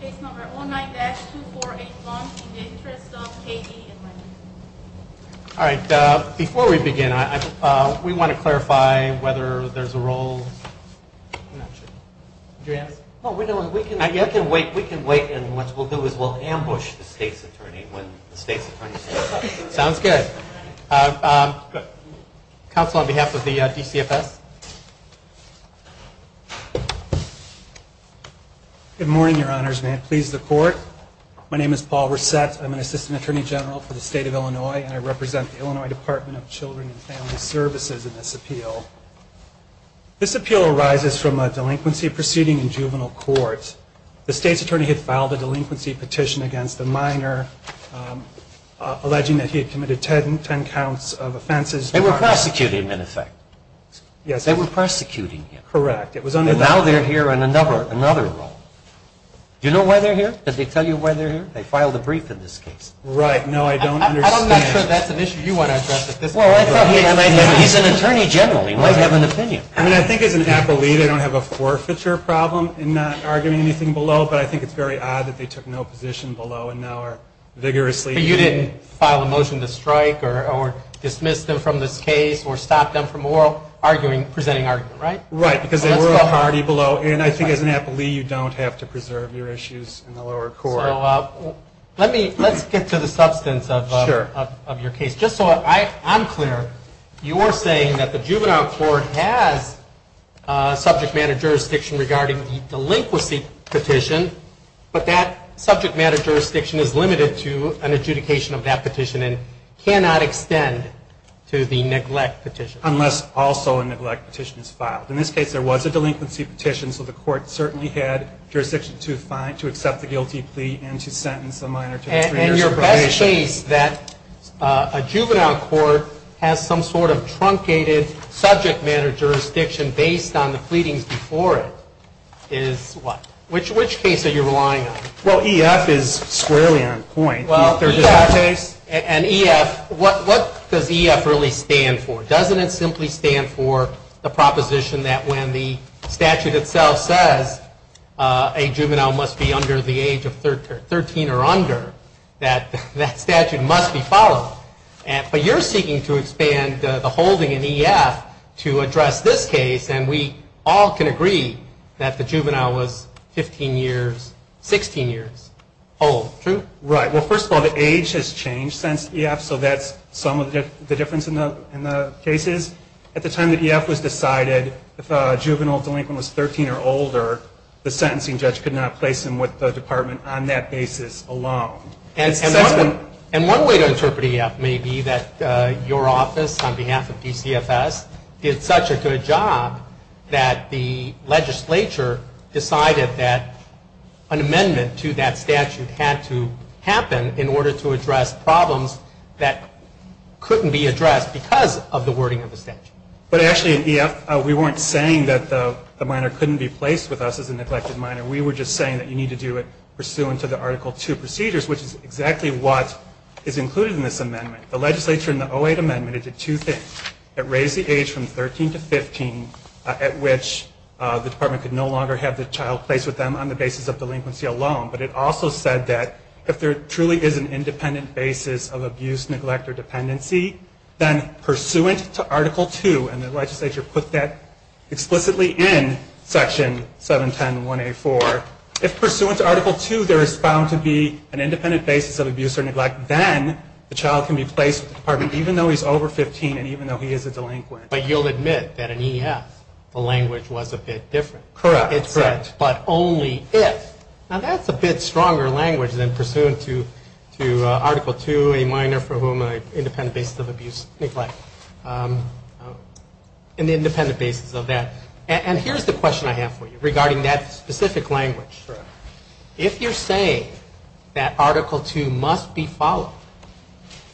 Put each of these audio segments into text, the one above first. Case No. 09-2481, In the Interest of K.D., a Minor. All right, before we begin, we want to clarify whether there's a roll. I'm not sure. We can wait, and what we'll do is we'll ambush the State's Attorney when the State's Attorney steps up. Sounds good. Counsel, on behalf of the DCFS. Good morning, Your Honors, and may it please the Court. My name is Paul Resett. I'm an Assistant Attorney General for the State of Illinois, and I represent the Illinois Department of Children and Family Services in this appeal. This appeal arises from a delinquency proceeding in juvenile court. The State's Attorney had filed a delinquency petition against the minor, alleging that he had committed 10 counts of offenses. They were prosecuting him, in effect. Yes. They were prosecuting him. Correct. It was under that. And now they're here on another roll. Do you know why they're here? Did they tell you why they're here? They filed a brief in this case. Right. No, I don't understand. I'm not sure that's an issue you want to address at this point. Well, I thought he might have an opinion. He's an attorney general. He might have an opinion. I mean, I think as an athlete, I don't have a forfeiture problem in not arguing anything below, but I think it's very odd that they took no position below and now are vigorously. But you didn't file a motion to strike or dismiss them from this case or stop them from presenting argument, right? Right, because they were already below. And I think as an athlete, you don't have to preserve your issues in the lower court. So let's get to the substance of your case. Just so I'm clear, you are saying that the juvenile court has subject matter jurisdiction regarding the delinquency petition, but that subject matter jurisdiction is limited to an adjudication of that petition and cannot extend to the neglect petition. Unless also a neglect petition is filed. In this case, there was a delinquency petition, so the court certainly had jurisdiction to accept the guilty plea and to sentence a minor to three years probation. And your best case that a juvenile court has some sort of truncated subject matter jurisdiction based on the pleadings before it is what? Which case are you relying on? Well, EF is squarely on point. And EF, what does EF really stand for? Doesn't it simply stand for the proposition that when the statute itself says a juvenile must be under the age of 13 or under, that statute must be followed? But you're seeking to expand the holding in EF to address this case, and we all can agree that the juvenile was 15 years, 16 years old. True? Right. Well, first of all, the age has changed since EF, so that's some of the difference in the cases. At the time that EF was decided, if a juvenile delinquent was 13 or older, the sentencing judge could not place them with the department on that basis alone. And one way to interpret EF may be that your office, on behalf of DCFS, did such a good job that the legislature decided that an amendment to that statute had to happen in order to address problems that couldn't be addressed because of the wording of the statute. But actually, at EF, we weren't saying that the minor couldn't be placed with us as a neglected minor. We were just saying that you need to do it pursuant to the Article 2 procedures, which is exactly what is included in this amendment. The legislature in the 08 amendment did two things. It raised the age from 13 to 15, at which the department could no longer have the child placed with them on the basis of delinquency alone. But it also said that if there truly is an independent basis of abuse, neglect, or dependency, then pursuant to Article 2, and the legislature put that explicitly in Section 710.1A4, if pursuant to Article 2 there is found to be an independent basis of abuse or neglect, then the child can be placed with the department even though he's over 15 and even though he is a delinquent. But you'll admit that in EF the language was a bit different. Correct. It said, but only if. Now that's a bit stronger language than pursuant to Article 2, a minor for whom an independent basis of abuse, neglect. An independent basis of that. And here's the question I have for you regarding that specific language. Sure. If you're saying that Article 2 must be followed,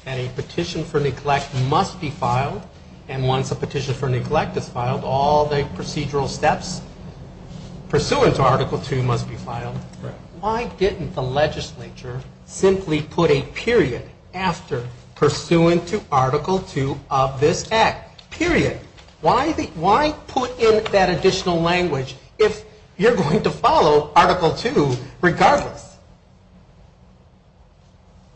that a petition for neglect must be filed, and once a petition for neglect is filed, all the procedural steps pursuant to Article 2 must be filed, why didn't the legislature simply put a period after, pursuant to Article 2 of this Act, period? Why put in that additional language if you're going to follow Article 2 regardless?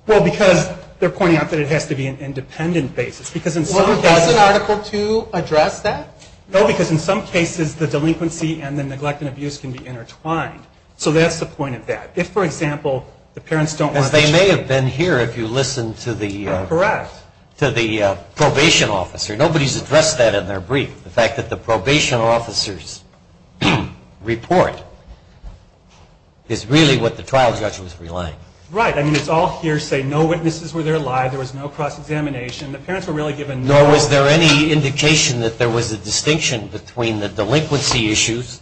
Well, because they're pointing out that it has to be an independent basis. Well, doesn't Article 2 address that? No, because in some cases the delinquency and the neglect and abuse can be intertwined. So that's the point of that. If, for example, the parents don't want the child. They may have been here if you listened to the probation officer. Nobody's addressed that in their brief, the fact that the probation officer's report is really what the trial judge was relying on. Right. I mean, it's all hearsay. No witnesses were there live. There was no cross-examination. The parents were really given no- Nor was there any indication that there was a distinction between the delinquency issues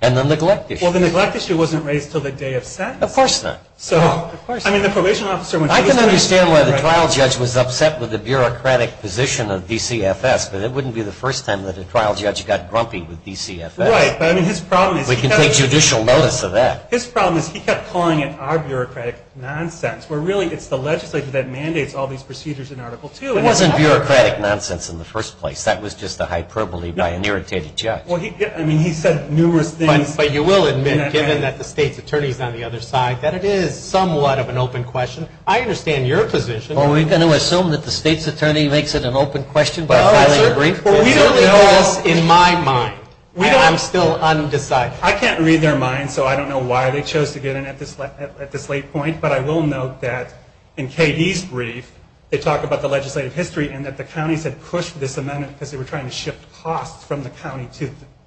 and the neglect issue. Well, the neglect issue wasn't raised until the day of sentence. Of course not. I mean, the probation officer- I can understand why the trial judge was upset with the bureaucratic position of DCFS, but it wouldn't be the first time that a trial judge got grumpy with DCFS. Right. But I mean, his problem is- We can take judicial notice of that. His problem is he kept calling it our bureaucratic nonsense, where really it's the legislature that mandates all these procedures in Article 2. It wasn't bureaucratic nonsense in the first place. That was just a hyperbole by an irritated judge. I mean, he said numerous things- But you will admit, given that the state's attorney is on the other side, that it is somewhat of an open question. I understand your position. Are we going to assume that the state's attorney makes it an open question by filing a brief? Well, we don't know in my mind. I'm still undecided. I can't read their minds, so I don't know why they chose to get in at this late point. But I will note that in KD's brief, they talk about the legislative history and that the counties had pushed this amendment because they were trying to shift costs from the county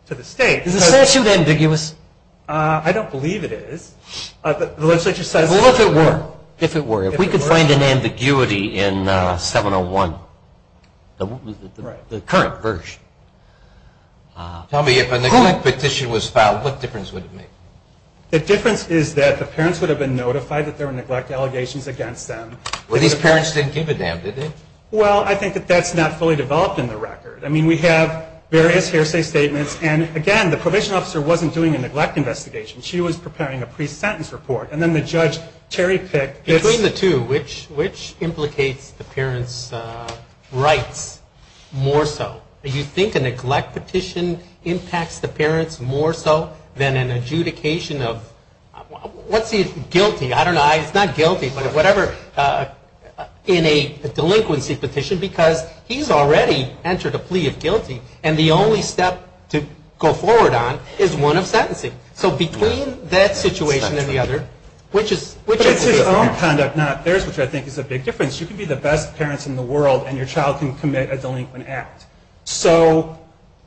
to the state. Is the statute ambiguous? I don't believe it is. The legislature says- Well, if it were. If it were. It would be an ambiguity in 701, the current version. Tell me, if a neglect petition was filed, what difference would it make? The difference is that the parents would have been notified that there were neglect allegations against them. Well, these parents didn't give a damn, did they? Well, I think that that's not fully developed in the record. I mean, we have various hearsay statements. And, again, the probation officer wasn't doing a neglect investigation. She was preparing a pre-sentence report. And then the judge, Terry Pick- Between the two, which implicates the parents' rights more so? Do you think a neglect petition impacts the parents more so than an adjudication of guilty? I don't know. It's not guilty, but whatever. In a delinquency petition, because he's already entered a plea of guilty, and the only step to go forward on is one of sentencing. So between that situation and the other, which is- But it's his own conduct, not theirs, which I think is a big difference. You can be the best parents in the world, and your child can commit a delinquent act. So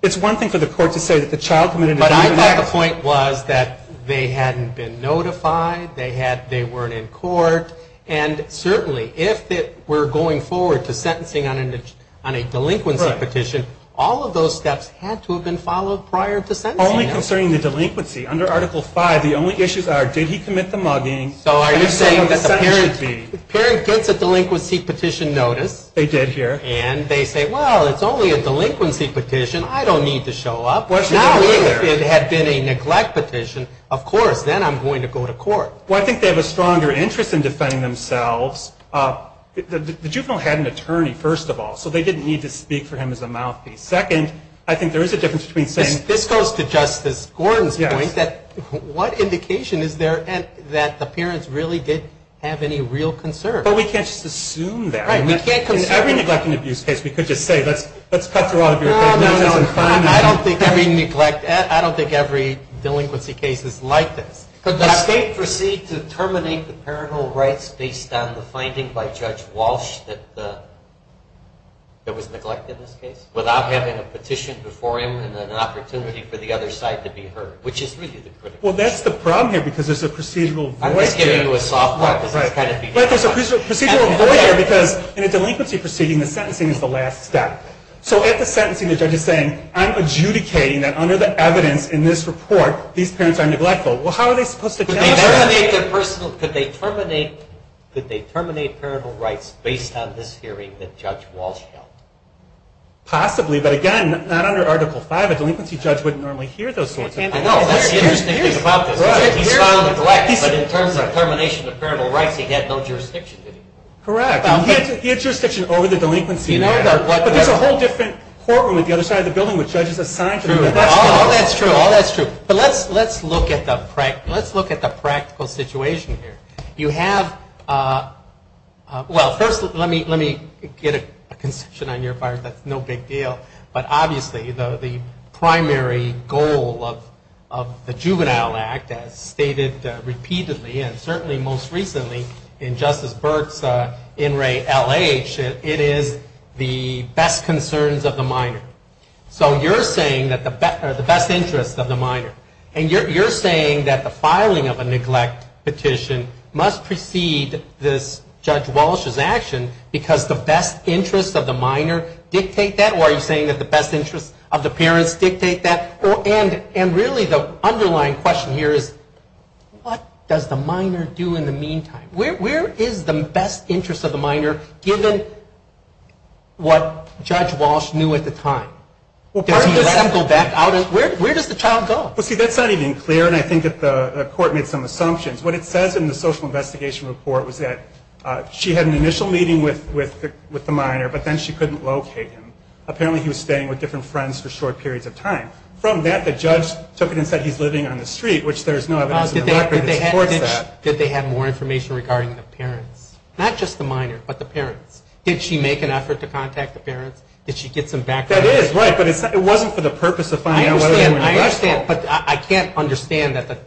it's one thing for the court to say that the child committed a delinquent act. But I thought the point was that they hadn't been notified, they weren't in court, and certainly if they were going forward to sentencing on a delinquency petition, all of those steps had to have been followed prior to sentencing. Only concerning the delinquency, under Article V, the only issues are did he commit the mugging? So are you saying that the parent gets a delinquency petition notice- They did here. And they say, well, it's only a delinquency petition, I don't need to show up. Now if it had been a neglect petition, of course, then I'm going to go to court. Well, I think they have a stronger interest in defending themselves. The juvenile had an attorney, first of all, so they didn't need to speak for him as a mouthpiece. Second, I think there is a difference between saying- This goes to Justice Gordon's point that what indication is there that the parents really did have any real concern? But we can't just assume that. Right, we can't- In every neglect and abuse case, we could just say, let's cut through all of your- No, no, no. I don't think every delinquency case is like this. Could the state proceed to terminate the parental rights based on the finding by Judge Walsh that the- Well, that's the problem here because there's a procedural- I'm just giving you a soft point because it's kind of- Right, but there's a procedural void here because in a delinquency proceeding, the sentencing is the last step. So at the sentencing, the judge is saying, I'm adjudicating that under the evidence in this report, these parents are neglectful. Well, how are they supposed to- Could they terminate their personal- Could they terminate parental rights based on this hearing that Judge Walsh held? Possibly, but again, not under Article V. A delinquency judge wouldn't normally hear those sorts of things. I know. That's the interesting thing about this. He's found neglect, but in terms of termination of parental rights, he had no jurisdiction anymore. Correct. He had jurisdiction over the delinquency. But there's a whole different courtroom at the other side of the building with judges assigned to- True. All that's true. All that's true. But let's look at the practical situation here. You have- well, first, let me get a conception on your part. That's no big deal. But obviously, the primary goal of the Juvenile Act, as stated repeatedly, and certainly most recently, in Justice Burke's in re LH, it is the best concerns of the minor. So you're saying that the best interest of the minor. And you're saying that the filing of a neglect petition must precede this Judge Walsh's action because the best interests of the minor dictate that? Or are you saying that the best interests of the parents dictate that? And really, the underlying question here is, what does the minor do in the meantime? Where is the best interest of the minor, given what Judge Walsh knew at the time? Does he let them go back out? Where does the child go? Well, see, that's not even clear, and I think that the court made some assumptions. What it says in the social investigation report was that she had an initial meeting with the minor, but then she couldn't locate him. Apparently, he was staying with different friends for short periods of time. From that, the judge took it and said he's living on the street, which there's no evidence in the record that supports that. Did they have more information regarding the parents? Not just the minor, but the parents. Did she make an effort to contact the parents? Did she get some background information? That is right. But it wasn't for the purpose of finding out whether they were neglectful. I understand, but I can't understand that the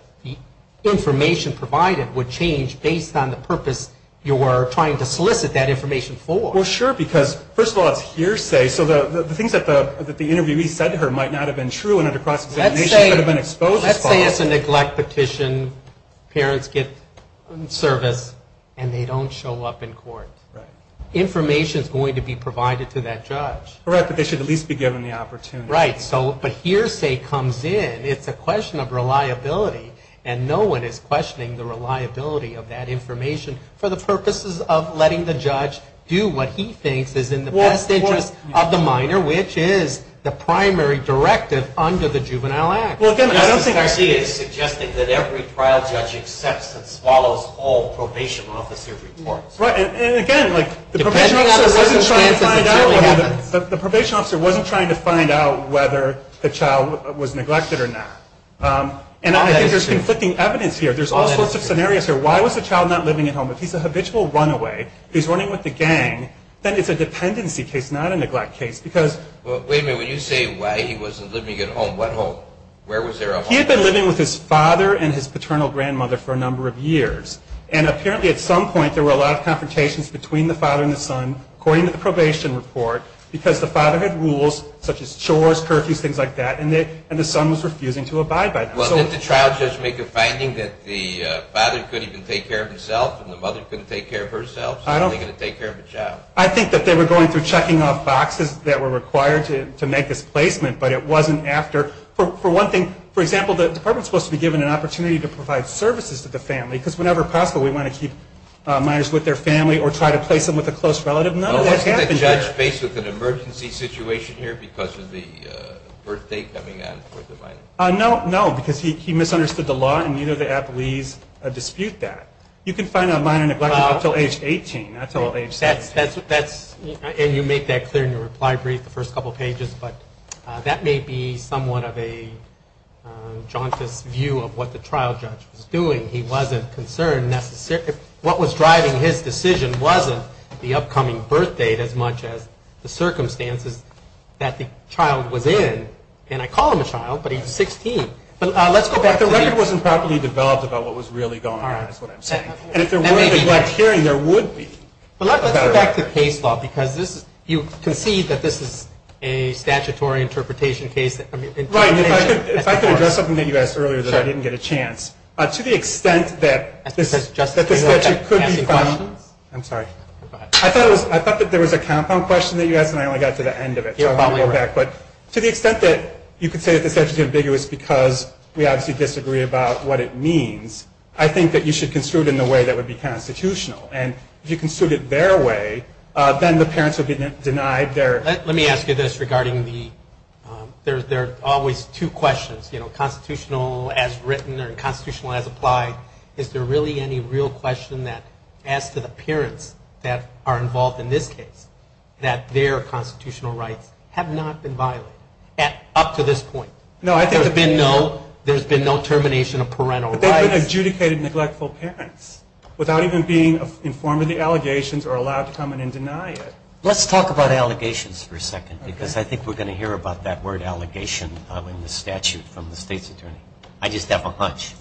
information provided would change based on the purpose you were trying to solicit that information for. Well, sure, because, first of all, it's hearsay. So the things that the interviewee said to her might not have been true, and under cross-examination, she could have been exposed as follows. Let's say it's a neglect petition. Parents get service, and they don't show up in court. Right. Information's going to be provided to that judge. Correct, but they should at least be given the opportunity. Right. So, but hearsay comes in. It's a question of reliability, and no one is questioning the reliability of that information for the purposes of letting the judge do what he thinks is in the best interest of the minor, which is the primary directive under the Juvenile Act. Well, again, I don't think... Justice Garcia is suggesting that every trial judge accepts and swallows all probation officer reports. Right. And, again, like... Depending on the circumstances, it certainly happens. The probation officer wasn't trying to find out whether the child was neglected or not. And I think there's conflicting evidence here. There's all sorts of scenarios here. Why was the child not living at home? If he's a habitual runaway, he's running with the gang, then it's a dependency case, not a neglect case, because... Well, wait a minute. When you say why he wasn't living at home, what home? Where was there a home? He had been living with his father and his paternal grandmother for a number of years, and apparently at some point there were a lot of confrontations between the father and the son. According to the probation report, because the father had rules, such as chores, curfews, things like that, and the son was refusing to abide by them. Well, didn't the trial judge make a finding that the father couldn't even take care of himself and the mother couldn't take care of herself, so how are they going to take care of a child? I think that they were going through checking off boxes that were required to make this placement, but it wasn't after... For one thing, for example, the department is supposed to be given an opportunity to provide services to the family, because whenever possible we want to keep minors with their family or try to place them with a close relative. Wasn't the judge faced with an emergency situation here because of the birth date coming on for the minor? No, no, because he misunderstood the law and neither of the appellees dispute that. You can find out minor neglect until age 18, not until age 17. And you make that clear in your reply brief the first couple of pages, but that may be somewhat of a jauntous view of what the trial judge was doing. He wasn't concerned necessarily... What was driving his decision wasn't the upcoming birth date as much as the circumstances that the child was in. And I call him a child, but he's 16. But let's go back to... But the record wasn't properly developed about what was really going on, is what I'm saying. And if there were a neglect hearing, there would be. But let's go back to case law, because you concede that this is a statutory interpretation case. Right, if I could address something that you asked earlier that I didn't get a chance. To the extent that this statute could be found... I'm sorry. Go ahead. I thought that there was a compound question that you asked, and I only got to the end of it. So I'm going to go back. But to the extent that you could say that this statute is ambiguous because we obviously disagree about what it means, I think that you should construe it in a way that would be constitutional. And if you construe it their way, then the parents would be denied their... Let me ask you this regarding the... There are always two questions, you know, constitutional as written or constitutional as applied. Is there really any real question that, as to the parents that are involved in this case, that their constitutional rights have not been violated up to this point? No, I think... There's been no termination of parental rights. But they've been adjudicated neglectful parents without even being informed of the allegations or allowed to come in and deny it. Let's talk about allegations for a second, because I think we're going to hear about that word allegation in the statute from the state's attorney. I just have a hunch,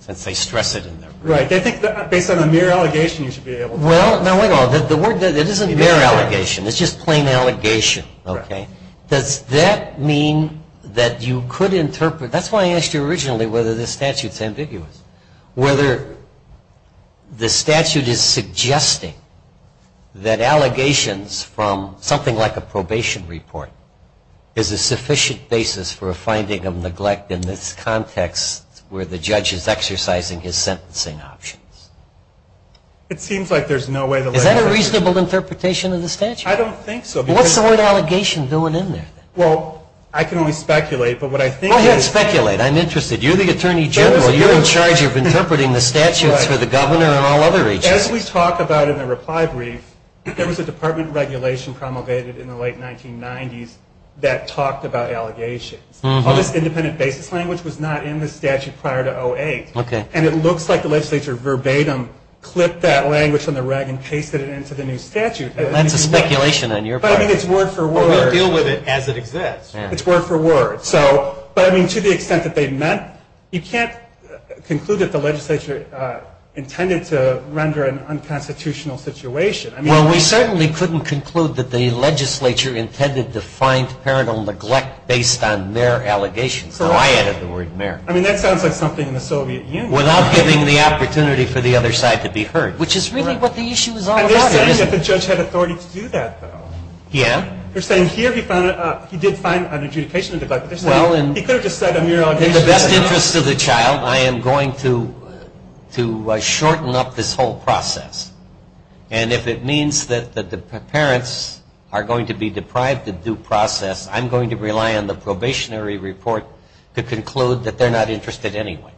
since they stress it in there. Right. I think that based on a mere allegation you should be able to... Well, now wait a minute. The word... It isn't mere allegation. It's just plain allegation. Okay? Does that mean that you could interpret... That's why I asked you originally whether this statute's ambiguous. Whether the statute is suggesting that allegations from something like a probation report is a sufficient basis for a finding of neglect in this context where the judge is exercising his sentencing options. It seems like there's no way to... Is that a reasonable interpretation of the statute? I don't think so. What's the word allegation doing in there, then? Well, I can only speculate, but what I think is... Go ahead, speculate. I'm interested. You're the attorney general. You're in charge of interpreting the statutes for the governor and all other agencies. As we talk about in the reply brief, there was a department regulation promulgated in the late 1990s that talked about allegations. All this independent basis language was not in the statute prior to 2008. And it looks like the legislature verbatim clipped that language from the rag and pasted it into the new statute. That's a speculation on your part. But, I mean, it's word for word. We'll deal with it as it exists. It's word for word. But, I mean, to the extent that they meant, you can't conclude that the legislature intended to render an unconstitutional situation. Well, we certainly couldn't conclude that the legislature intended to find parental neglect based on their allegations. So I added the word mayor. I mean, that sounds like something in the Soviet Union. Without giving the opportunity for the other side to be heard, which is really what the issue is all about. And they're saying that the judge had authority to do that, though. Yeah. They're saying here he did find an adjudication of neglect. He could have just said a mere allegation. In the best interest of the child, I am going to shorten up this whole process. And if it means that the parents are going to be deprived of due process, I'm going to rely on the probationary report to conclude that they're not interested anyway.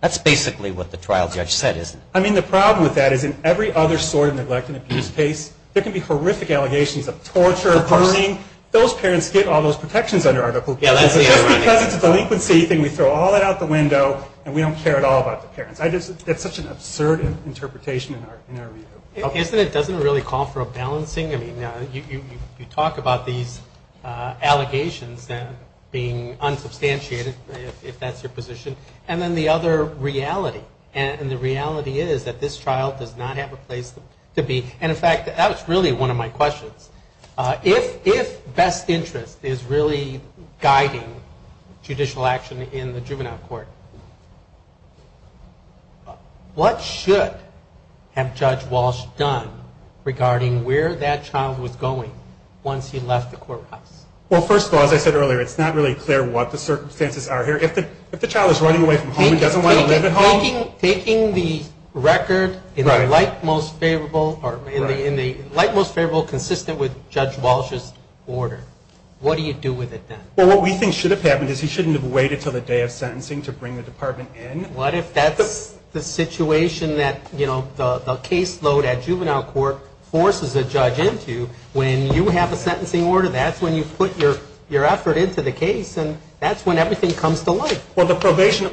That's basically what the trial judge said, isn't it? I mean, the problem with that is in every other sort of neglect and abuse case, there can be horrific allegations of torture, burning. Those parents get all those protections under Article 12. Just because it's a delinquency thing, we throw all that out the window, and we don't care at all about the parents. That's such an absurd interpretation in our view. Isn't it? Doesn't it really call for a balancing? I mean, you talk about these allegations being unsubstantiated, if that's your position. And then the other reality, and the reality is that this trial does not have a place to be. And, in fact, that was really one of my questions. If best interest is really guiding judicial action in the juvenile court, what should have Judge Walsh done regarding where that child was going once he left the courthouse? Well, first of all, as I said earlier, it's not really clear what the circumstances are here. If the child is running away from home and doesn't want to live at home. Taking the record in the light most favorable, consistent with Judge Walsh's order, what do you do with it then? Well, what we think should have happened is he shouldn't have waited until the day of sentencing to bring the department in. What if that's the situation that the caseload at juvenile court forces a judge into? When you have a sentencing order, that's when you put your effort into the case, and that's when everything comes to light. Well, the probation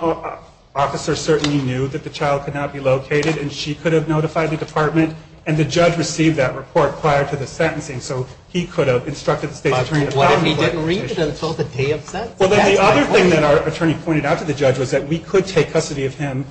officer certainly knew that the child could not be located, and she could have notified the department, and the judge received that report prior to the sentencing, so he could have instructed the state's attorney to file it. But what if he didn't read it until the day of sentencing? Well, then the other thing that our attorney pointed out to the judge was that we could take custody of him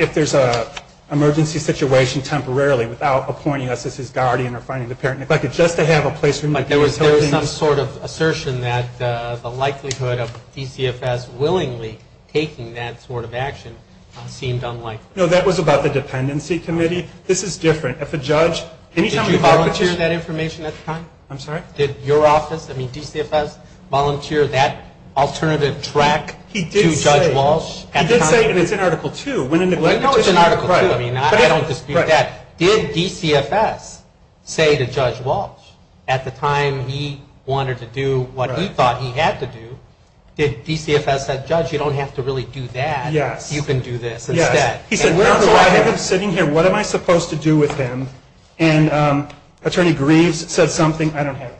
if there's an emergency situation temporarily without appointing us as his guardian or finding the parent. If I could just to have a place for me to do those sort of things. But there was some sort of assertion that the likelihood of DCFS willingly taking that sort of action seemed unlikely. No, that was about the dependency committee. This is different. If a judge – Did you volunteer that information at the time? I'm sorry? Did your office, I mean DCFS, volunteer that alternative track to Judge Walsh at the time? He did say, and it's in Article II, when in neglect – No, it's in Article II. I mean, I don't dispute that. But did DCFS say to Judge Walsh at the time he wanted to do what he thought he had to do, did DCFS say, Judge, you don't have to really do that. Yes. You can do this instead. Yes. He said, where do I have him sitting here? What am I supposed to do with him? And Attorney Greaves said something – I don't have it.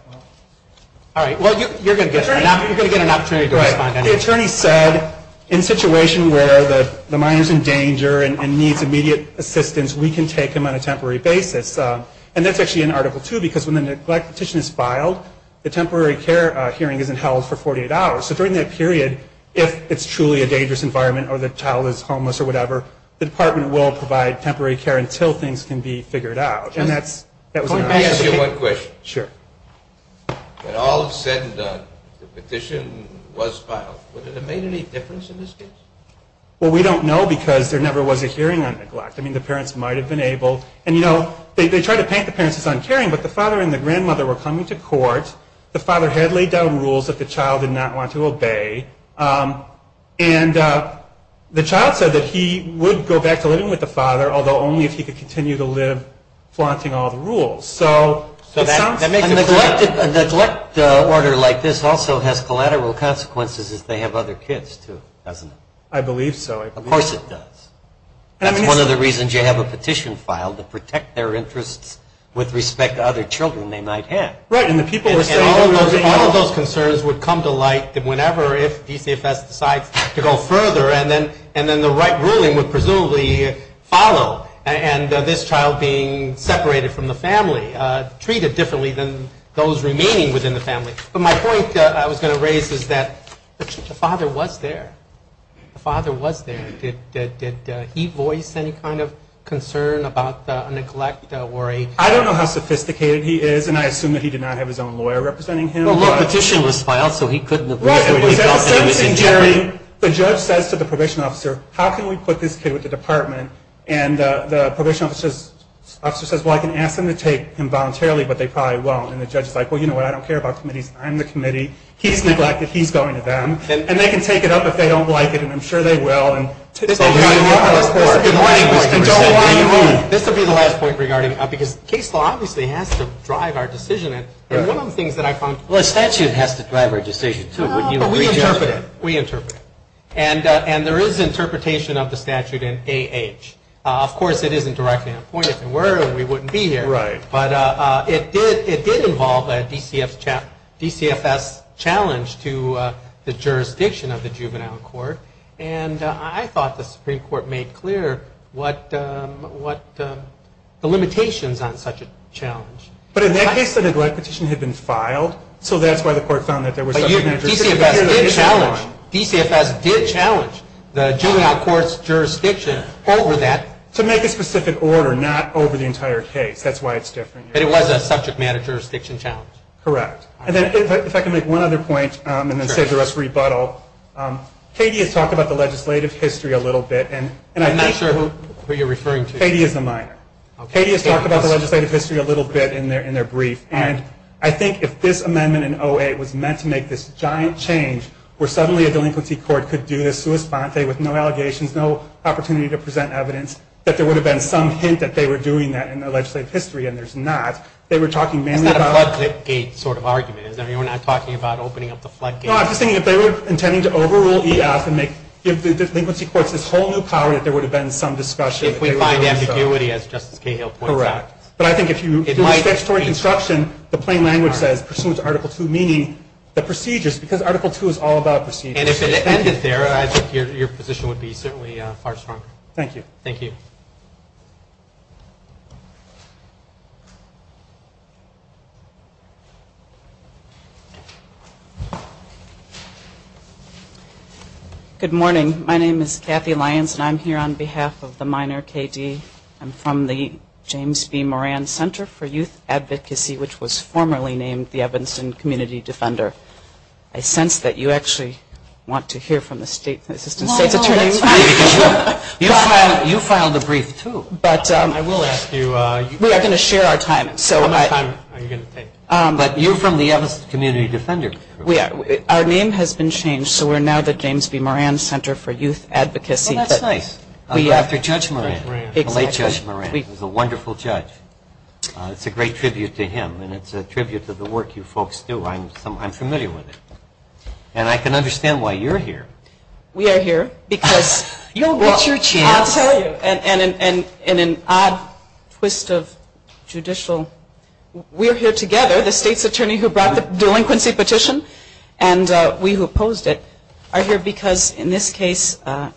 All right. Well, you're going to get it. You're going to get an opportunity to respond. The attorney said, in a situation where the minor is in danger and needs immediate assistance, we can take him on a temporary basis. And that's actually in Article II, because when the neglect petition is filed, the temporary care hearing isn't held for 48 hours. So during that period, if it's truly a dangerous environment or the child is homeless or whatever, the department will provide temporary care until things can be figured out. Let me ask you one question. Sure. When all is said and done, the petition was filed. Would it have made any difference in this case? Well, we don't know because there never was a hearing on neglect. I mean, the parents might have been able – and, you know, they try to paint the parents as uncaring, but the father and the grandmother were coming to court. The father had laid down rules that the child did not want to obey. And the child said that he would go back to living with the father, although only if he could continue to live flaunting all the rules. So that makes it clear. A neglect order like this also has collateral consequences if they have other kids, too, doesn't it? I believe so. Of course it does. That's one of the reasons you have a petition filed, to protect their interests with respect to other children they might have. Right, and the people were saying – And all of those concerns would come to light whenever, if DCFS decides to go further, and then the right ruling would presumably follow. And this child being separated from the family, treated differently than those remaining within the family. But my point I was going to raise is that the father was there. The father was there. Did he voice any kind of concern about a neglect worry? I don't know how sophisticated he is, and I assume that he did not have his own lawyer representing him. Well, the petition was filed, so he couldn't have – Right, but it was the same thing, Jerry. The judge says to the probation officer, how can we put this kid with the department? And the probation officer says, well, I can ask them to take him voluntarily, but they probably won't. And the judge is like, well, you know what, I don't care about committees. I'm the committee. He's neglected. He's going to them. And they can take it up if they don't like it, and I'm sure they will. This would be the last point regarding – because case law obviously has to drive our decision. And one of the things that I found – Well, a statute has to drive our decision, too. We interpret it. We interpret it. And there is interpretation of the statute in A.H. Of course, it isn't directly appointed. If it were, we wouldn't be here. Right. But it did involve a DCFS challenge to the jurisdiction of the juvenile court, and I thought the Supreme Court made clear what – the limitations on such a challenge. But in that case, the direct petition had been filed, so that's why the court found that there was such a major issue. DCFS did challenge the juvenile court's jurisdiction over that. To make a specific order, not over the entire case. That's why it's different. But it was a subject matter jurisdiction challenge. Correct. And then if I can make one other point and then save the rest for rebuttal, Katie has talked about the legislative history a little bit, and I think – I'm not sure who you're referring to. Katie is a minor. Katie has talked about the legislative history a little bit in their brief, and I think if this amendment in 08 was meant to make this giant change, where suddenly a delinquency court could do this sua sponte with no allegations, no opportunity to present evidence, that there would have been some hint that they were doing that in their legislative history, and there's not. They were talking mainly about – It's not a floodgate sort of argument, is there? You're not talking about opening up the floodgate? No, I'm just thinking if they were intending to overrule E.F. and give the delinquency courts this whole new power that there would have been some discussion. If we find ambiguity, as Justice Cahill points out. Correct. But I think if you do statutory construction, the plain language says, pursuant to Article II, meaning the procedures, because Article II is all about procedures. And if it ended there, I think your position would be certainly far stronger. Thank you. Thank you. Good morning. My name is Kathy Lyons, and I'm here on behalf of the minor K.D. I'm from the James B. Moran Center for Youth Advocacy, which was formerly named the Evanston Community Defender. I sense that you actually want to hear from the State's Assistant State's Attorney. That's fine. You filed a brief, too. I will ask you – We are going to share our time. How much time are you going to take? But you're from the Evanston Community Defender. Our name has been changed, so we're now the James B. Moran Center for Youth Advocacy. Well, that's nice. After Judge Moran. Exactly. The late Judge Moran. He was a wonderful judge. It's a great tribute to him, and it's a tribute to the work you folks do. I'm familiar with it. And I can understand why you're here. We are here because – You'll get your chance. I'll tell you, in an odd twist of judicial – we are here together, the State's Attorney who brought the delinquency petition and we who opposed it, are here because, in this case, to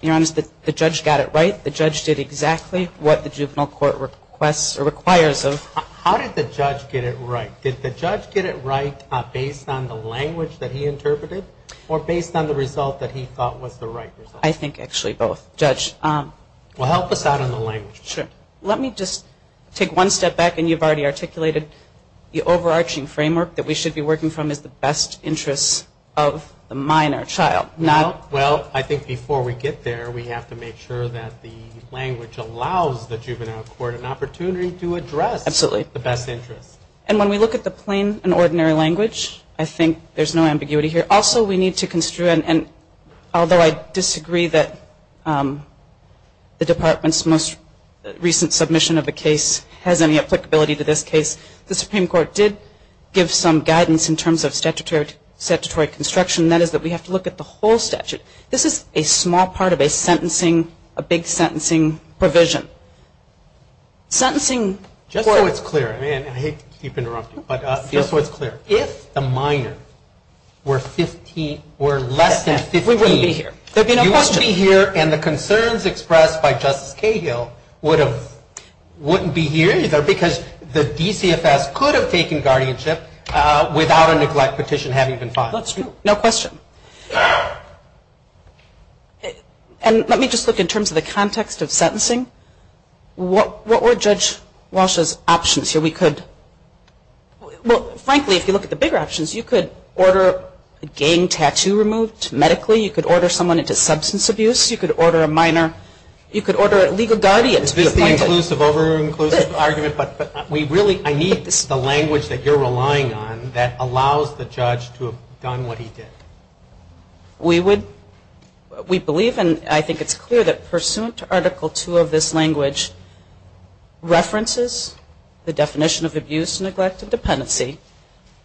be honest, the judge got it right. The judge did exactly what the juvenile court requires of – How did the judge get it right? Did the judge get it right based on the language that he interpreted or based on the result that he thought was the right result? I think actually both, Judge. Well, help us out on the language. Sure. Let me just take one step back, and you've already articulated the overarching framework that we should be working from is the best interests of the minor child, not – Well, I think before we get there, we have to make sure that the language allows the juvenile court an opportunity to address the best interests. Absolutely. And when we look at the plain and ordinary language, I think there's no ambiguity here. Also, we need to – and although I disagree that the Department's most recent submission of a case has any applicability to this case, the Supreme Court did give some guidance in terms of statutory construction. That is that we have to look at the whole statute. This is a small part of a sentencing – a big sentencing provision. Sentencing – Just so it's clear, and I hate to keep interrupting, but just so it's clear, if the minor were less than 15 – We wouldn't be here. There'd be no question. You wouldn't be here, and the concerns expressed by Justice Cahill wouldn't be here either because the DCFS could have taken guardianship without a neglect petition having been filed. That's true. No question. And let me just look in terms of the context of sentencing. What were Judge Walsh's options here? We could – well, frankly, if you look at the bigger options, you could order a gang tattoo removed medically. You could order someone into substance abuse. You could order a minor – you could order legal guardians. This is the inclusive over inclusive argument, but we really – I need the language that you're relying on that allows the judge to have done what he did. We would – we believe, and I think it's clear that pursuant to Article 2 of this language, references the definition of abuse, neglect, and dependency,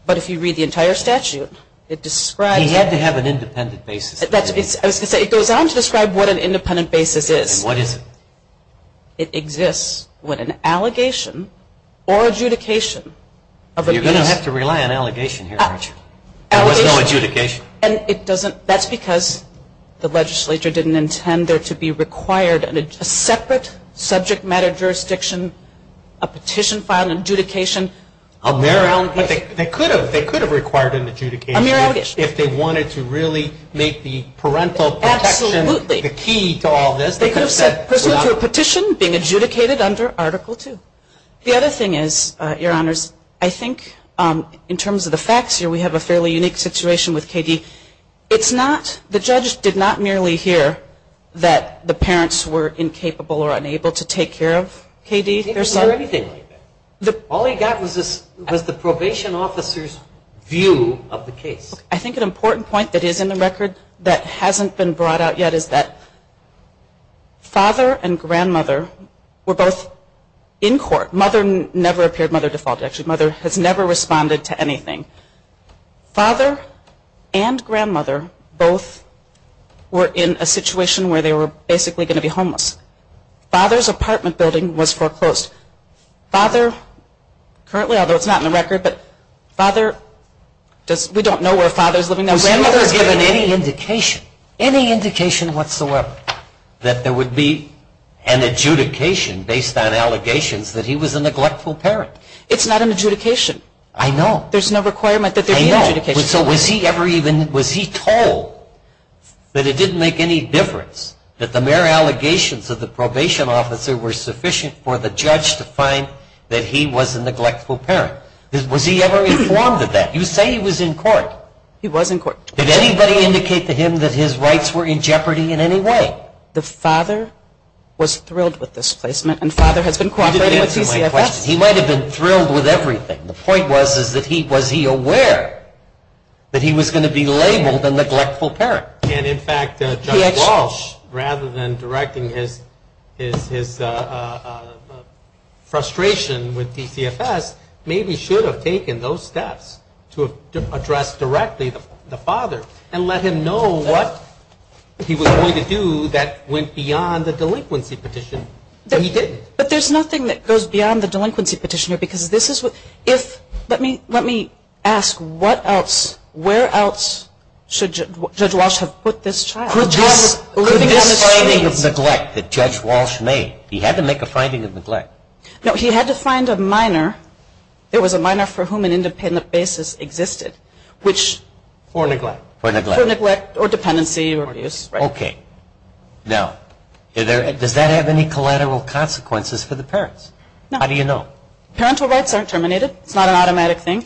but if you read the entire statute, it describes – He had to have an independent basis. I was going to say, it goes on to describe what an independent basis is. And what is it? It exists when an allegation or adjudication of abuse – You're going to have to rely on allegation here, aren't you? Allegation. There was no adjudication. And it doesn't – that's because the legislature didn't intend there to be required – a separate subject matter jurisdiction, a petition filed, an adjudication. A mere allegation. But they could have required an adjudication if they wanted to really make the parental protection – Absolutely. The key to all this. They could have said pursuant to a petition being adjudicated under Article 2. The other thing is, Your Honors, I think in terms of the facts here, we have a fairly unique situation with K.D. It's not – the judge did not merely hear that the parents were incapable or unable to take care of K.D. He didn't hear anything like that. All he got was the probation officer's view of the case. I think an important point that is in the record that hasn't been brought out yet is that father and grandmother were both in court. Mother never appeared. Mother defaulted, actually. Mother has never responded to anything. Father and grandmother both were in a situation where they were basically going to be homeless. Father's apartment building was foreclosed. Father – currently, although it's not in the record, but father does – we don't know where father is living now. Was he ever given any indication, any indication whatsoever, that there would be an adjudication based on allegations that he was a neglectful parent? It's not an adjudication. I know. There's no requirement that there be an adjudication. I know. So was he ever even – was he told that it didn't make any difference, that the mere allegations of the probation officer were sufficient for the judge to find that he was a neglectful parent? Was he ever informed of that? You say he was in court. He was in court. Did anybody indicate to him that his rights were in jeopardy in any way? The father was thrilled with this placement, and father has been cooperating with DCFS. You didn't answer my question. He might have been thrilled with everything. The point was, is that he – was he aware that he was going to be labeled a neglectful parent? And, in fact, Judge Walsh, rather than directing his frustration with DCFS, maybe should have taken those steps to address directly the father and let him know what he was going to do that went beyond the delinquency petition. He didn't. But there's nothing that goes beyond the delinquency petitioner because this is what – if – let me ask what else – where else should Judge Walsh have put this child? Could this – could this finding of neglect that Judge Walsh made – he had to make a finding of neglect. No, he had to find a minor. It was a minor for whom an independent basis existed, which – For neglect. For neglect. For neglect or dependency or abuse. Okay. Now, does that have any collateral consequences for the parents? No. How do you know? Parental rights aren't terminated. It's not an automatic thing.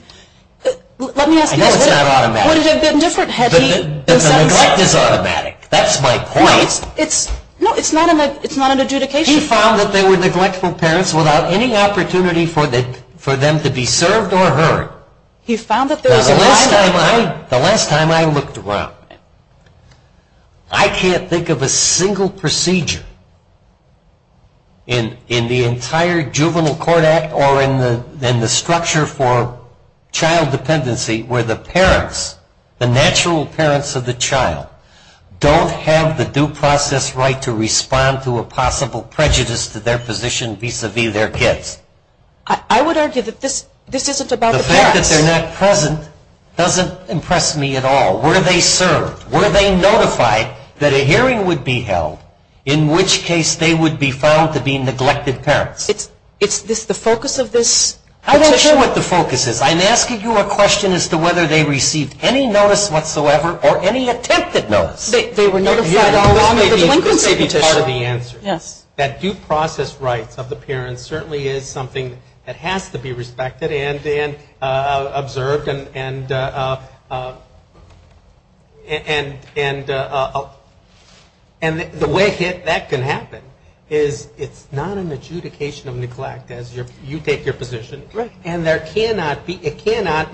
Let me ask you – I know it's not automatic. Would it have been different had he – The neglect is automatic. That's my point. No, it's – no, it's not an adjudication. He found that they were neglectful parents without any opportunity for them to be served or heard. He found that there was a – The last time I – the last time I looked around, I can't think of a single procedure in the entire Juvenile Court Act or in the structure for child dependency where the parents, the natural parents of the child, don't have the due process right to respond to a possible prejudice to their position vis-à-vis their kids. I would argue that this isn't about the parents. The fact that they're not present doesn't impress me at all. Were they served? Were they notified that a hearing would be held in which case they would be found to be neglected parents? It's the focus of this petition. I'm not sure what the focus is. Yes, I'm asking you a question as to whether they received any notice whatsoever or any attempted notice. They were notified along with the delinquency petition. This may be part of the answer. Yes. That due process rights of the parents certainly is something that has to be respected and observed, and the way that can happen is it's not an adjudication of neglect as you take your position. Right. And there cannot be, it cannot,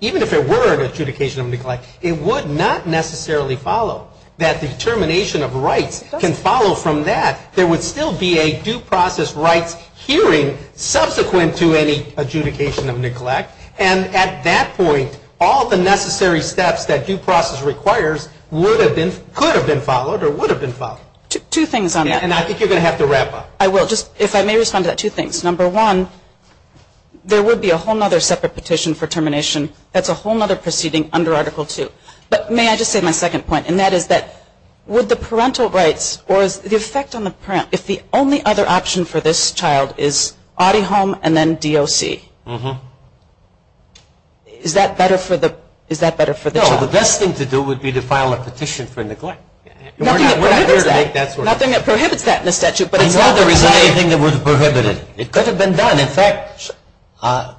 even if it were an adjudication of neglect, it would not necessarily follow. That determination of rights can follow from that. There would still be a due process rights hearing subsequent to any adjudication of neglect, and at that point all the necessary steps that due process requires would have been, could have been followed or would have been followed. Two things on that. And I think you're going to have to wrap up. I will. If I may respond to that, two things. Number one, there would be a whole other separate petition for termination. That's a whole other proceeding under Article II. But may I just say my second point, and that is that would the parental rights, or is the effect on the parent, if the only other option for this child is audi home and then DOC, is that better for the child? No, the best thing to do would be to file a petition for neglect. Nothing that prohibits that. Nothing that prohibits that in the statute. But is there anything that would prohibit it? It could have been done. In fact,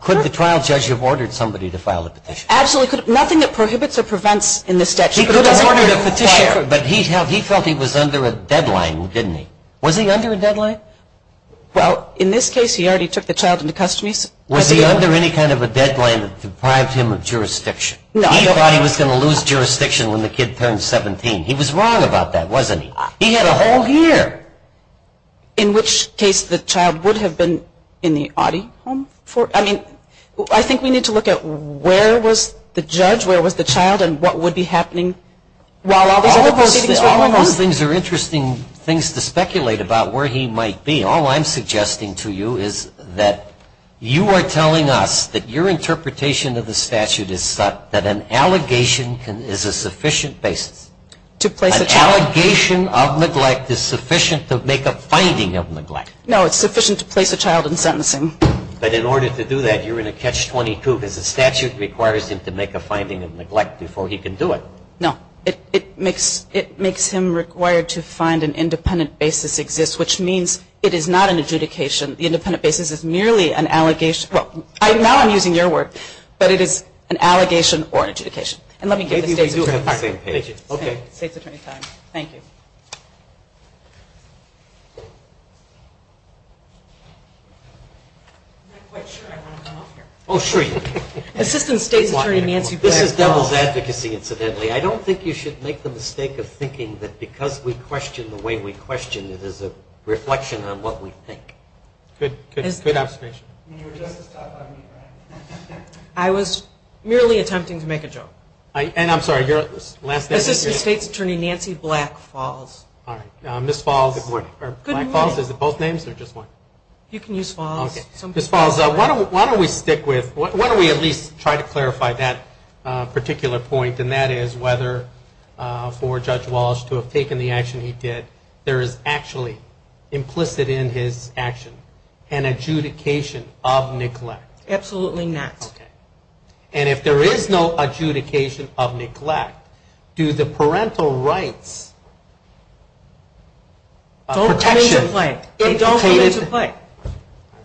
could the trial judge have ordered somebody to file a petition? Absolutely. Nothing that prohibits or prevents in the statute. He could have ordered a petition. But he felt he was under a deadline, didn't he? Was he under a deadline? Well, in this case he already took the child into custody. Was he under any kind of a deadline that deprived him of jurisdiction? No. He thought he was going to lose jurisdiction when the kid turned 17. He was wrong about that, wasn't he? He had a whole year. In which case the child would have been in the audi home? I mean, I think we need to look at where was the judge, where was the child, and what would be happening while all these other proceedings were going on. All of those things are interesting things to speculate about where he might be. All I'm suggesting to you is that you are telling us that your interpretation of the statute is that an allegation is a sufficient basis. An allegation of neglect is sufficient to make a finding of neglect. No, it's sufficient to place a child in sentencing. But in order to do that, you're in a catch-22, because the statute requires him to make a finding of neglect before he can do it. No, it makes him required to find an independent basis exists, which means it is not an adjudication. The independent basis is merely an allegation. Now I'm using your word, but it is an allegation or an adjudication. And let me give the State's Attorney time. Thank you. I'm not quite sure I want to come up here. Oh, sure you do. Assistant State's Attorney Nancy Blackwell. This is devil's advocacy, incidentally. I don't think you should make the mistake of thinking that because we question the way we question, it is a reflection on what we think. Good observation. You were just as tough on me, right? I was merely attempting to make a joke. And I'm sorry, your last name? Assistant State's Attorney Nancy Black Falls. All right. Ms. Falls. Good morning. Good morning. Black Falls, is it both names or just one? You can use Falls. Okay. Ms. Falls, why don't we stick with, why don't we at least try to clarify that particular point, and that is whether for Judge Walsh to have taken the action he did, there is actually implicit in his action an adjudication of neglect. Absolutely not. Okay. And if there is no adjudication of neglect, do the parental rights of protection indicate it? Don't come into play. They don't come into play.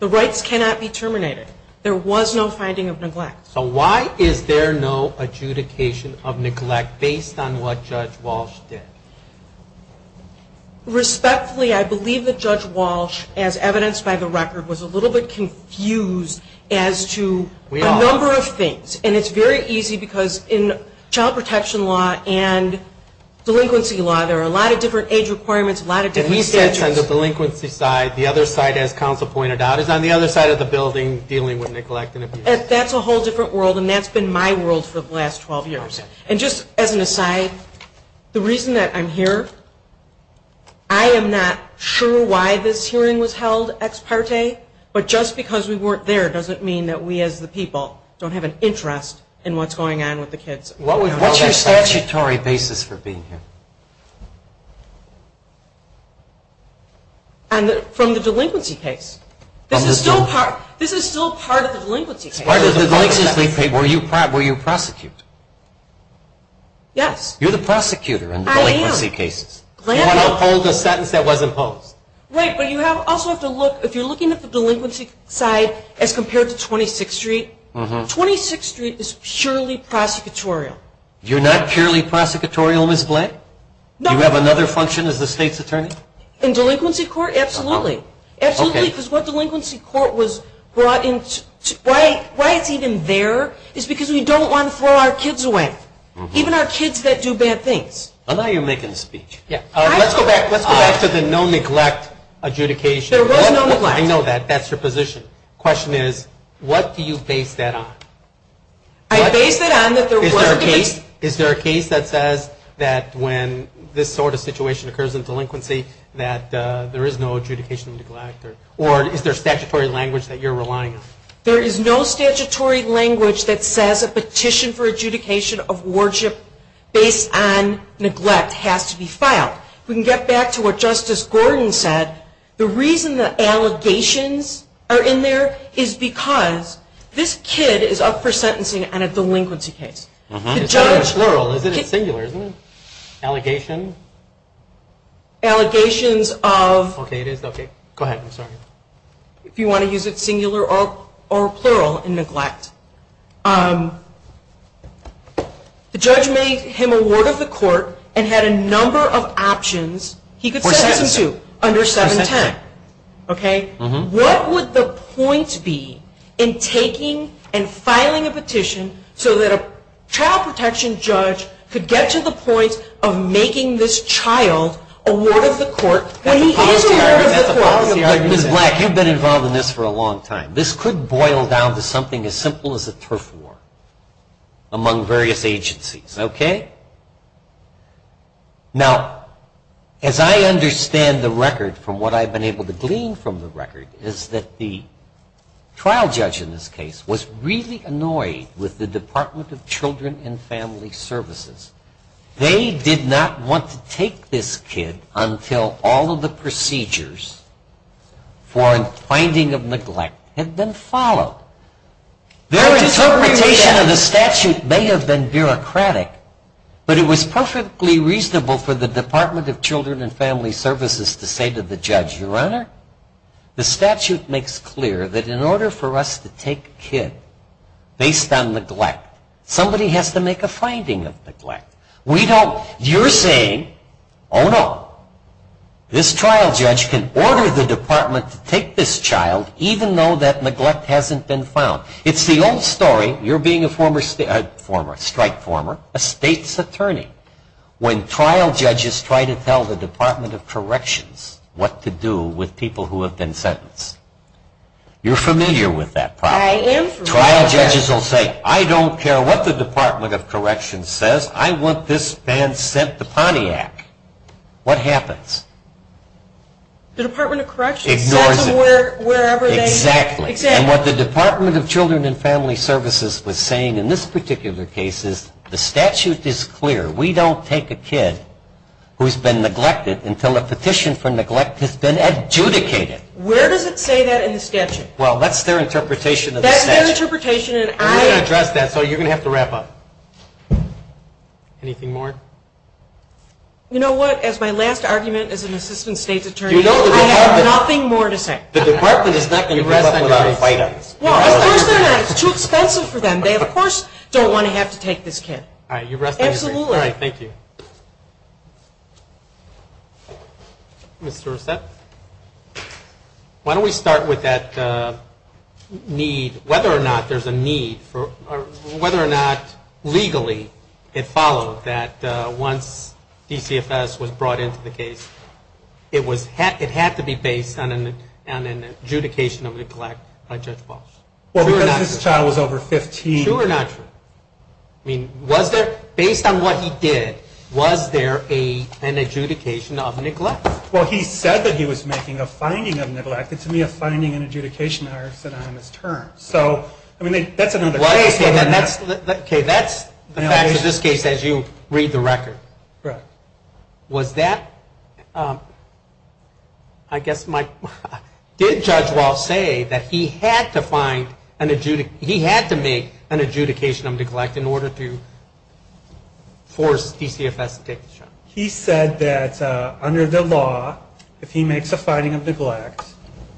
The rights cannot be terminated. There was no finding of neglect. So why is there no adjudication of neglect based on what Judge Walsh did? Respectfully, I believe that Judge Walsh, as evidenced by the record, was a little bit confused as to a number of things. And it's very easy because in child protection law and delinquency law there are a lot of different age requirements, a lot of different statutes. And he said on the delinquency side, the other side, as counsel pointed out, is on the other side of the building dealing with neglect and abuse. That's a whole different world, and that's been my world for the last 12 years. And just as an aside, the reason that I'm here, I am not sure why this hearing was held ex parte, but just because we weren't there doesn't mean that we, as the people, don't have an interest in what's going on with the kids. What's your statutory basis for being here? From the delinquency case. This is still part of the delinquency case. Were you prosecuted? Yes. You're the prosecutor in the delinquency cases. I am. You want to uphold a sentence that was imposed. Right, but you also have to look, if you're looking at the delinquency side as compared to 26th Street, 26th Street is surely prosecutorial. You're not purely prosecutorial, Ms. Bland? No. Do you have another function as the state's attorney? In delinquency court, absolutely. Absolutely, because what delinquency court was brought into, why it's even there is because we don't want to throw our kids away. Even our kids that do bad things. Now you're making a speech. Let's go back to the no neglect adjudication. There was no neglect. I know that. That's your position. The question is, what do you base that on? I base that on that there wasn't a case. Is there a case that says that when this sort of situation occurs in delinquency that there is no adjudication of neglect, or is there statutory language that you're relying on? There is no statutory language that says a petition for adjudication of worship based on neglect has to be filed. If we can get back to what Justice Gordon said, the reason that allegations are in there is because this kid is up for sentencing on a delinquency case. It's very plural, isn't it? It's singular, isn't it? Allegation. Allegations of. Okay, it is. Go ahead. I'm sorry. If you want to use it singular or plural in neglect. The judge made him a ward of the court and had a number of options. He could sentence him to under 710. What would the point be in taking and filing a petition so that a child protection judge could get to the point of making this child a ward of the court? Black, you've been involved in this for a long time. This could boil down to something as simple as a turf war among various agencies, okay? Now, as I understand the record from what I've been able to glean from the record is that the trial judge in this case was really annoyed with the Department of Children and Family Services. They did not want to take this kid until all of the procedures for finding of neglect had been followed. Their interpretation of the statute may have been bureaucratic, but it was perfectly reasonable for the Department of Children and Family Services to say to the judge, your honor, the statute makes clear that in order for us to take a kid based on neglect, somebody has to make a finding of neglect. You're saying, oh, no, this trial judge can order the department to take this child even though that neglect hasn't been found. It's the old story, you're being a strike former, a state's attorney, when trial judges try to tell the Department of Corrections what to do with people who have been sentenced. You're familiar with that problem. I am familiar. Trial judges will say, I don't care what the Department of Corrections says, I want this man sent to Pontiac. What happens? The Department of Corrections says to wherever they. Exactly. Exactly. And what the Department of Children and Family Services was saying in this particular case is the statute is clear. We don't take a kid who's been neglected until a petition for neglect has been adjudicated. Where does it say that in the statute? Well, that's their interpretation of the statute. That's their interpretation, and I. We're going to address that, so you're going to have to wrap up. Anything more? You know what, as my last argument as an assistant state's attorney, I have nothing more to say. The department is not going to give up without a fight on this. Well, of course they're not. It's too expensive for them. They, of course, don't want to have to take this kid. All right, you rest on your feet. Absolutely. All right, thank you. Mr. Reset, why don't we start with that need, whether or not there's a need for, whether or not legally it followed that once DCFS was brought into the case, it was, it had to be based on an adjudication of neglect by Judge Walsh. Well, because this child was over 15. True or not true? Was there an adjudication of neglect? Well, he said that he was making a finding of neglect. It's to me a finding and adjudication are synonymous terms. So, I mean, that's another case. Okay, that's the facts of this case as you read the record. Correct. Was that, I guess my, did Judge Walsh say that he had to find, he had to make an adjudication of neglect in order to force DCFS to take the child? He said that under the law, if he makes a finding of neglect,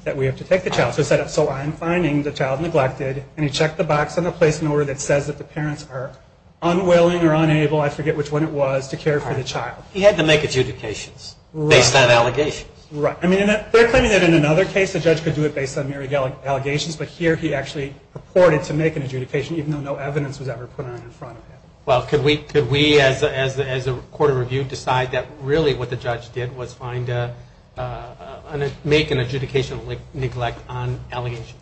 that we have to take the child. So he said, so I'm finding the child neglected, and he checked the box on the place in order that says that the parents are unwilling or unable, I forget which one it was, to care for the child. He had to make adjudications. Right. Based on allegations. Right. I mean, they're claiming that in another case the judge could do it based on myriad allegations, but here he actually purported to make an adjudication even though no evidence was ever put on in front of him. Well, could we, as a court of review, decide that really what the judge did was find, make an adjudication of neglect on allegation?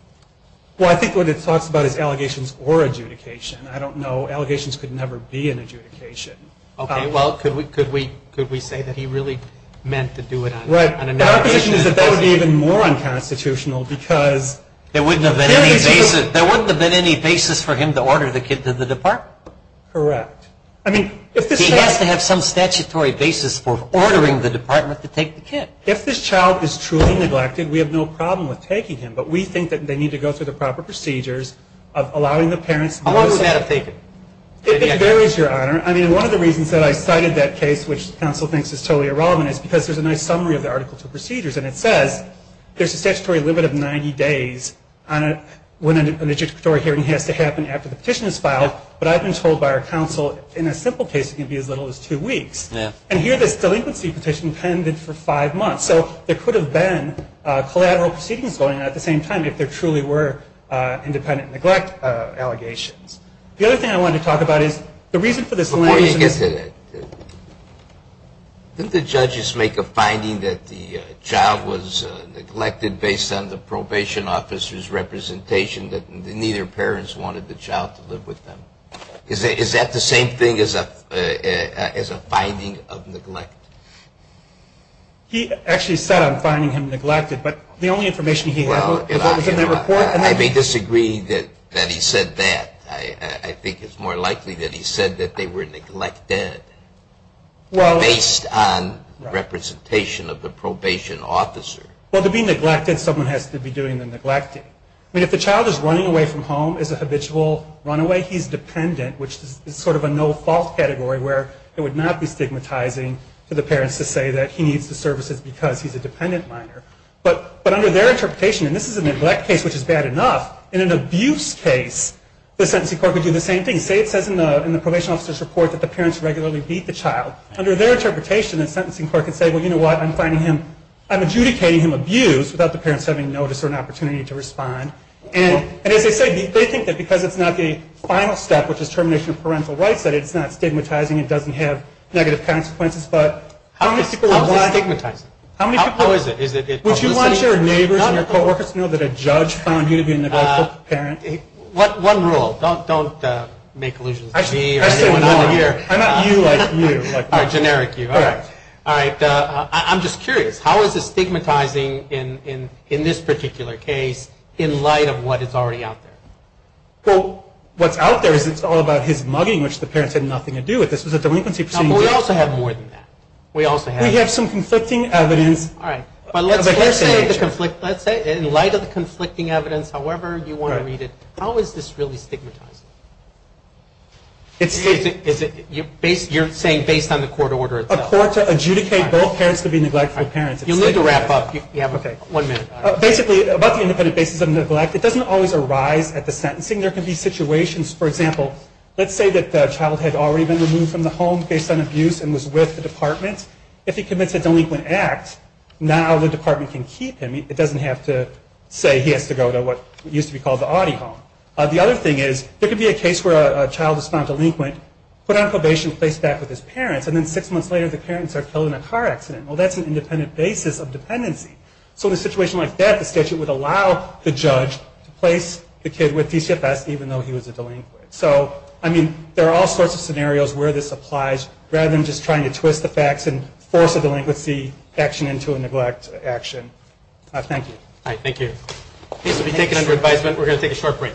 Well, I think what it talks about is allegations or adjudication. I don't know. Allegations could never be an adjudication. Okay, well, could we say that he really meant to do it on an allegation? Our position is that that would be even more unconstitutional because there wouldn't have been any basis for him to order the kid to the department. Correct. I mean, if this child. He has to have some statutory basis for ordering the department to take the kid. If this child is truly neglected, we have no problem with taking him, but we think that they need to go through the proper procedures of allowing the parents. How long would that have taken? It varies, Your Honor. I mean, one of the reasons that I cited that case, which counsel thinks is totally irrelevant, is because there's a nice summary of the article to procedures, and it says there's a statutory limit of 90 days when an adjudicatory hearing has to happen after the petition is filed, but I've been told by our counsel, in a simple case, it can be as little as two weeks. Yeah. And here, this delinquency petition pended for five months, so there could have been collateral proceedings going on at the same time if there truly were independent neglect allegations. The other thing I wanted to talk about is the reason for this. Before you get to that, didn't the judges make a finding that the child was neglected based on the probation officer's representation that neither parents wanted the child to live with them? Is that the same thing as a finding of neglect? He actually said on finding him neglected, but the only information he had was in that report. I may disagree that he said that. I think it's more likely that he said that they were neglected based on representation of the probation officer. Well, to be neglected, someone has to be doing the neglecting. I mean, if the child is running away from home as a habitual runaway, he's dependent, which is sort of a no-fault category where it would not be stigmatizing for the parents to say that he needs the services because he's a dependent minor. But under their interpretation, and this is a neglect case, which is bad enough, in an abuse case, the sentencing court would do the same thing. Say it says in the probation officer's report that the parents regularly beat the child. Under their interpretation, the sentencing court can say, well, you know what, I'm finding him, I'm adjudicating him abused without the parents having notice or an opportunity to respond. And as they say, they think that because it's not the final step, which is termination of parental rights, that it's not stigmatizing, it doesn't have negative consequences. But how many people would want? How is it stigmatizing? How is it? Would you want your neighbors and your coworkers to know that a judge found you to be a neglectful parent? One rule. Don't make allusions to me or anyone under here. I'm not you like you. Or generic you. All right. All right. I'm just curious. How is it stigmatizing in this particular case in light of what is already out there? Well, what's out there is it's all about his mugging, which the parents had nothing to do with. This was a delinquency proceeding. No, but we also have more than that. We also have. We have some conflicting evidence. All right. But let's say in light of the conflicting evidence, however you want to read it, how is this really stigmatizing? You're saying based on the court order itself? A court to adjudicate both parents to be neglectful parents. You'll need to wrap up. Okay. One minute. Basically, about the independent basis of neglect, it doesn't always arise at the sentencing. There can be situations, for example, let's say that the child had already been removed from the home based on abuse and was with the department. If he commits a delinquent act, now the department can keep him. It doesn't have to say he has to go to what used to be called the audi home. The other thing is there could be a case where a child is found delinquent, put on probation, placed back with his parents, and then six months later the parents are killed in a car accident. Well, that's an independent basis of dependency. So in a situation like that, the statute would allow the judge to place the kid with DCFS even though he was a delinquent. So, I mean, there are all sorts of scenarios where this applies rather than just trying to twist the facts and force a delinquency action into a neglect action. Thank you. All right. Thank you. This will be taken under advisement. We're going to take a short break.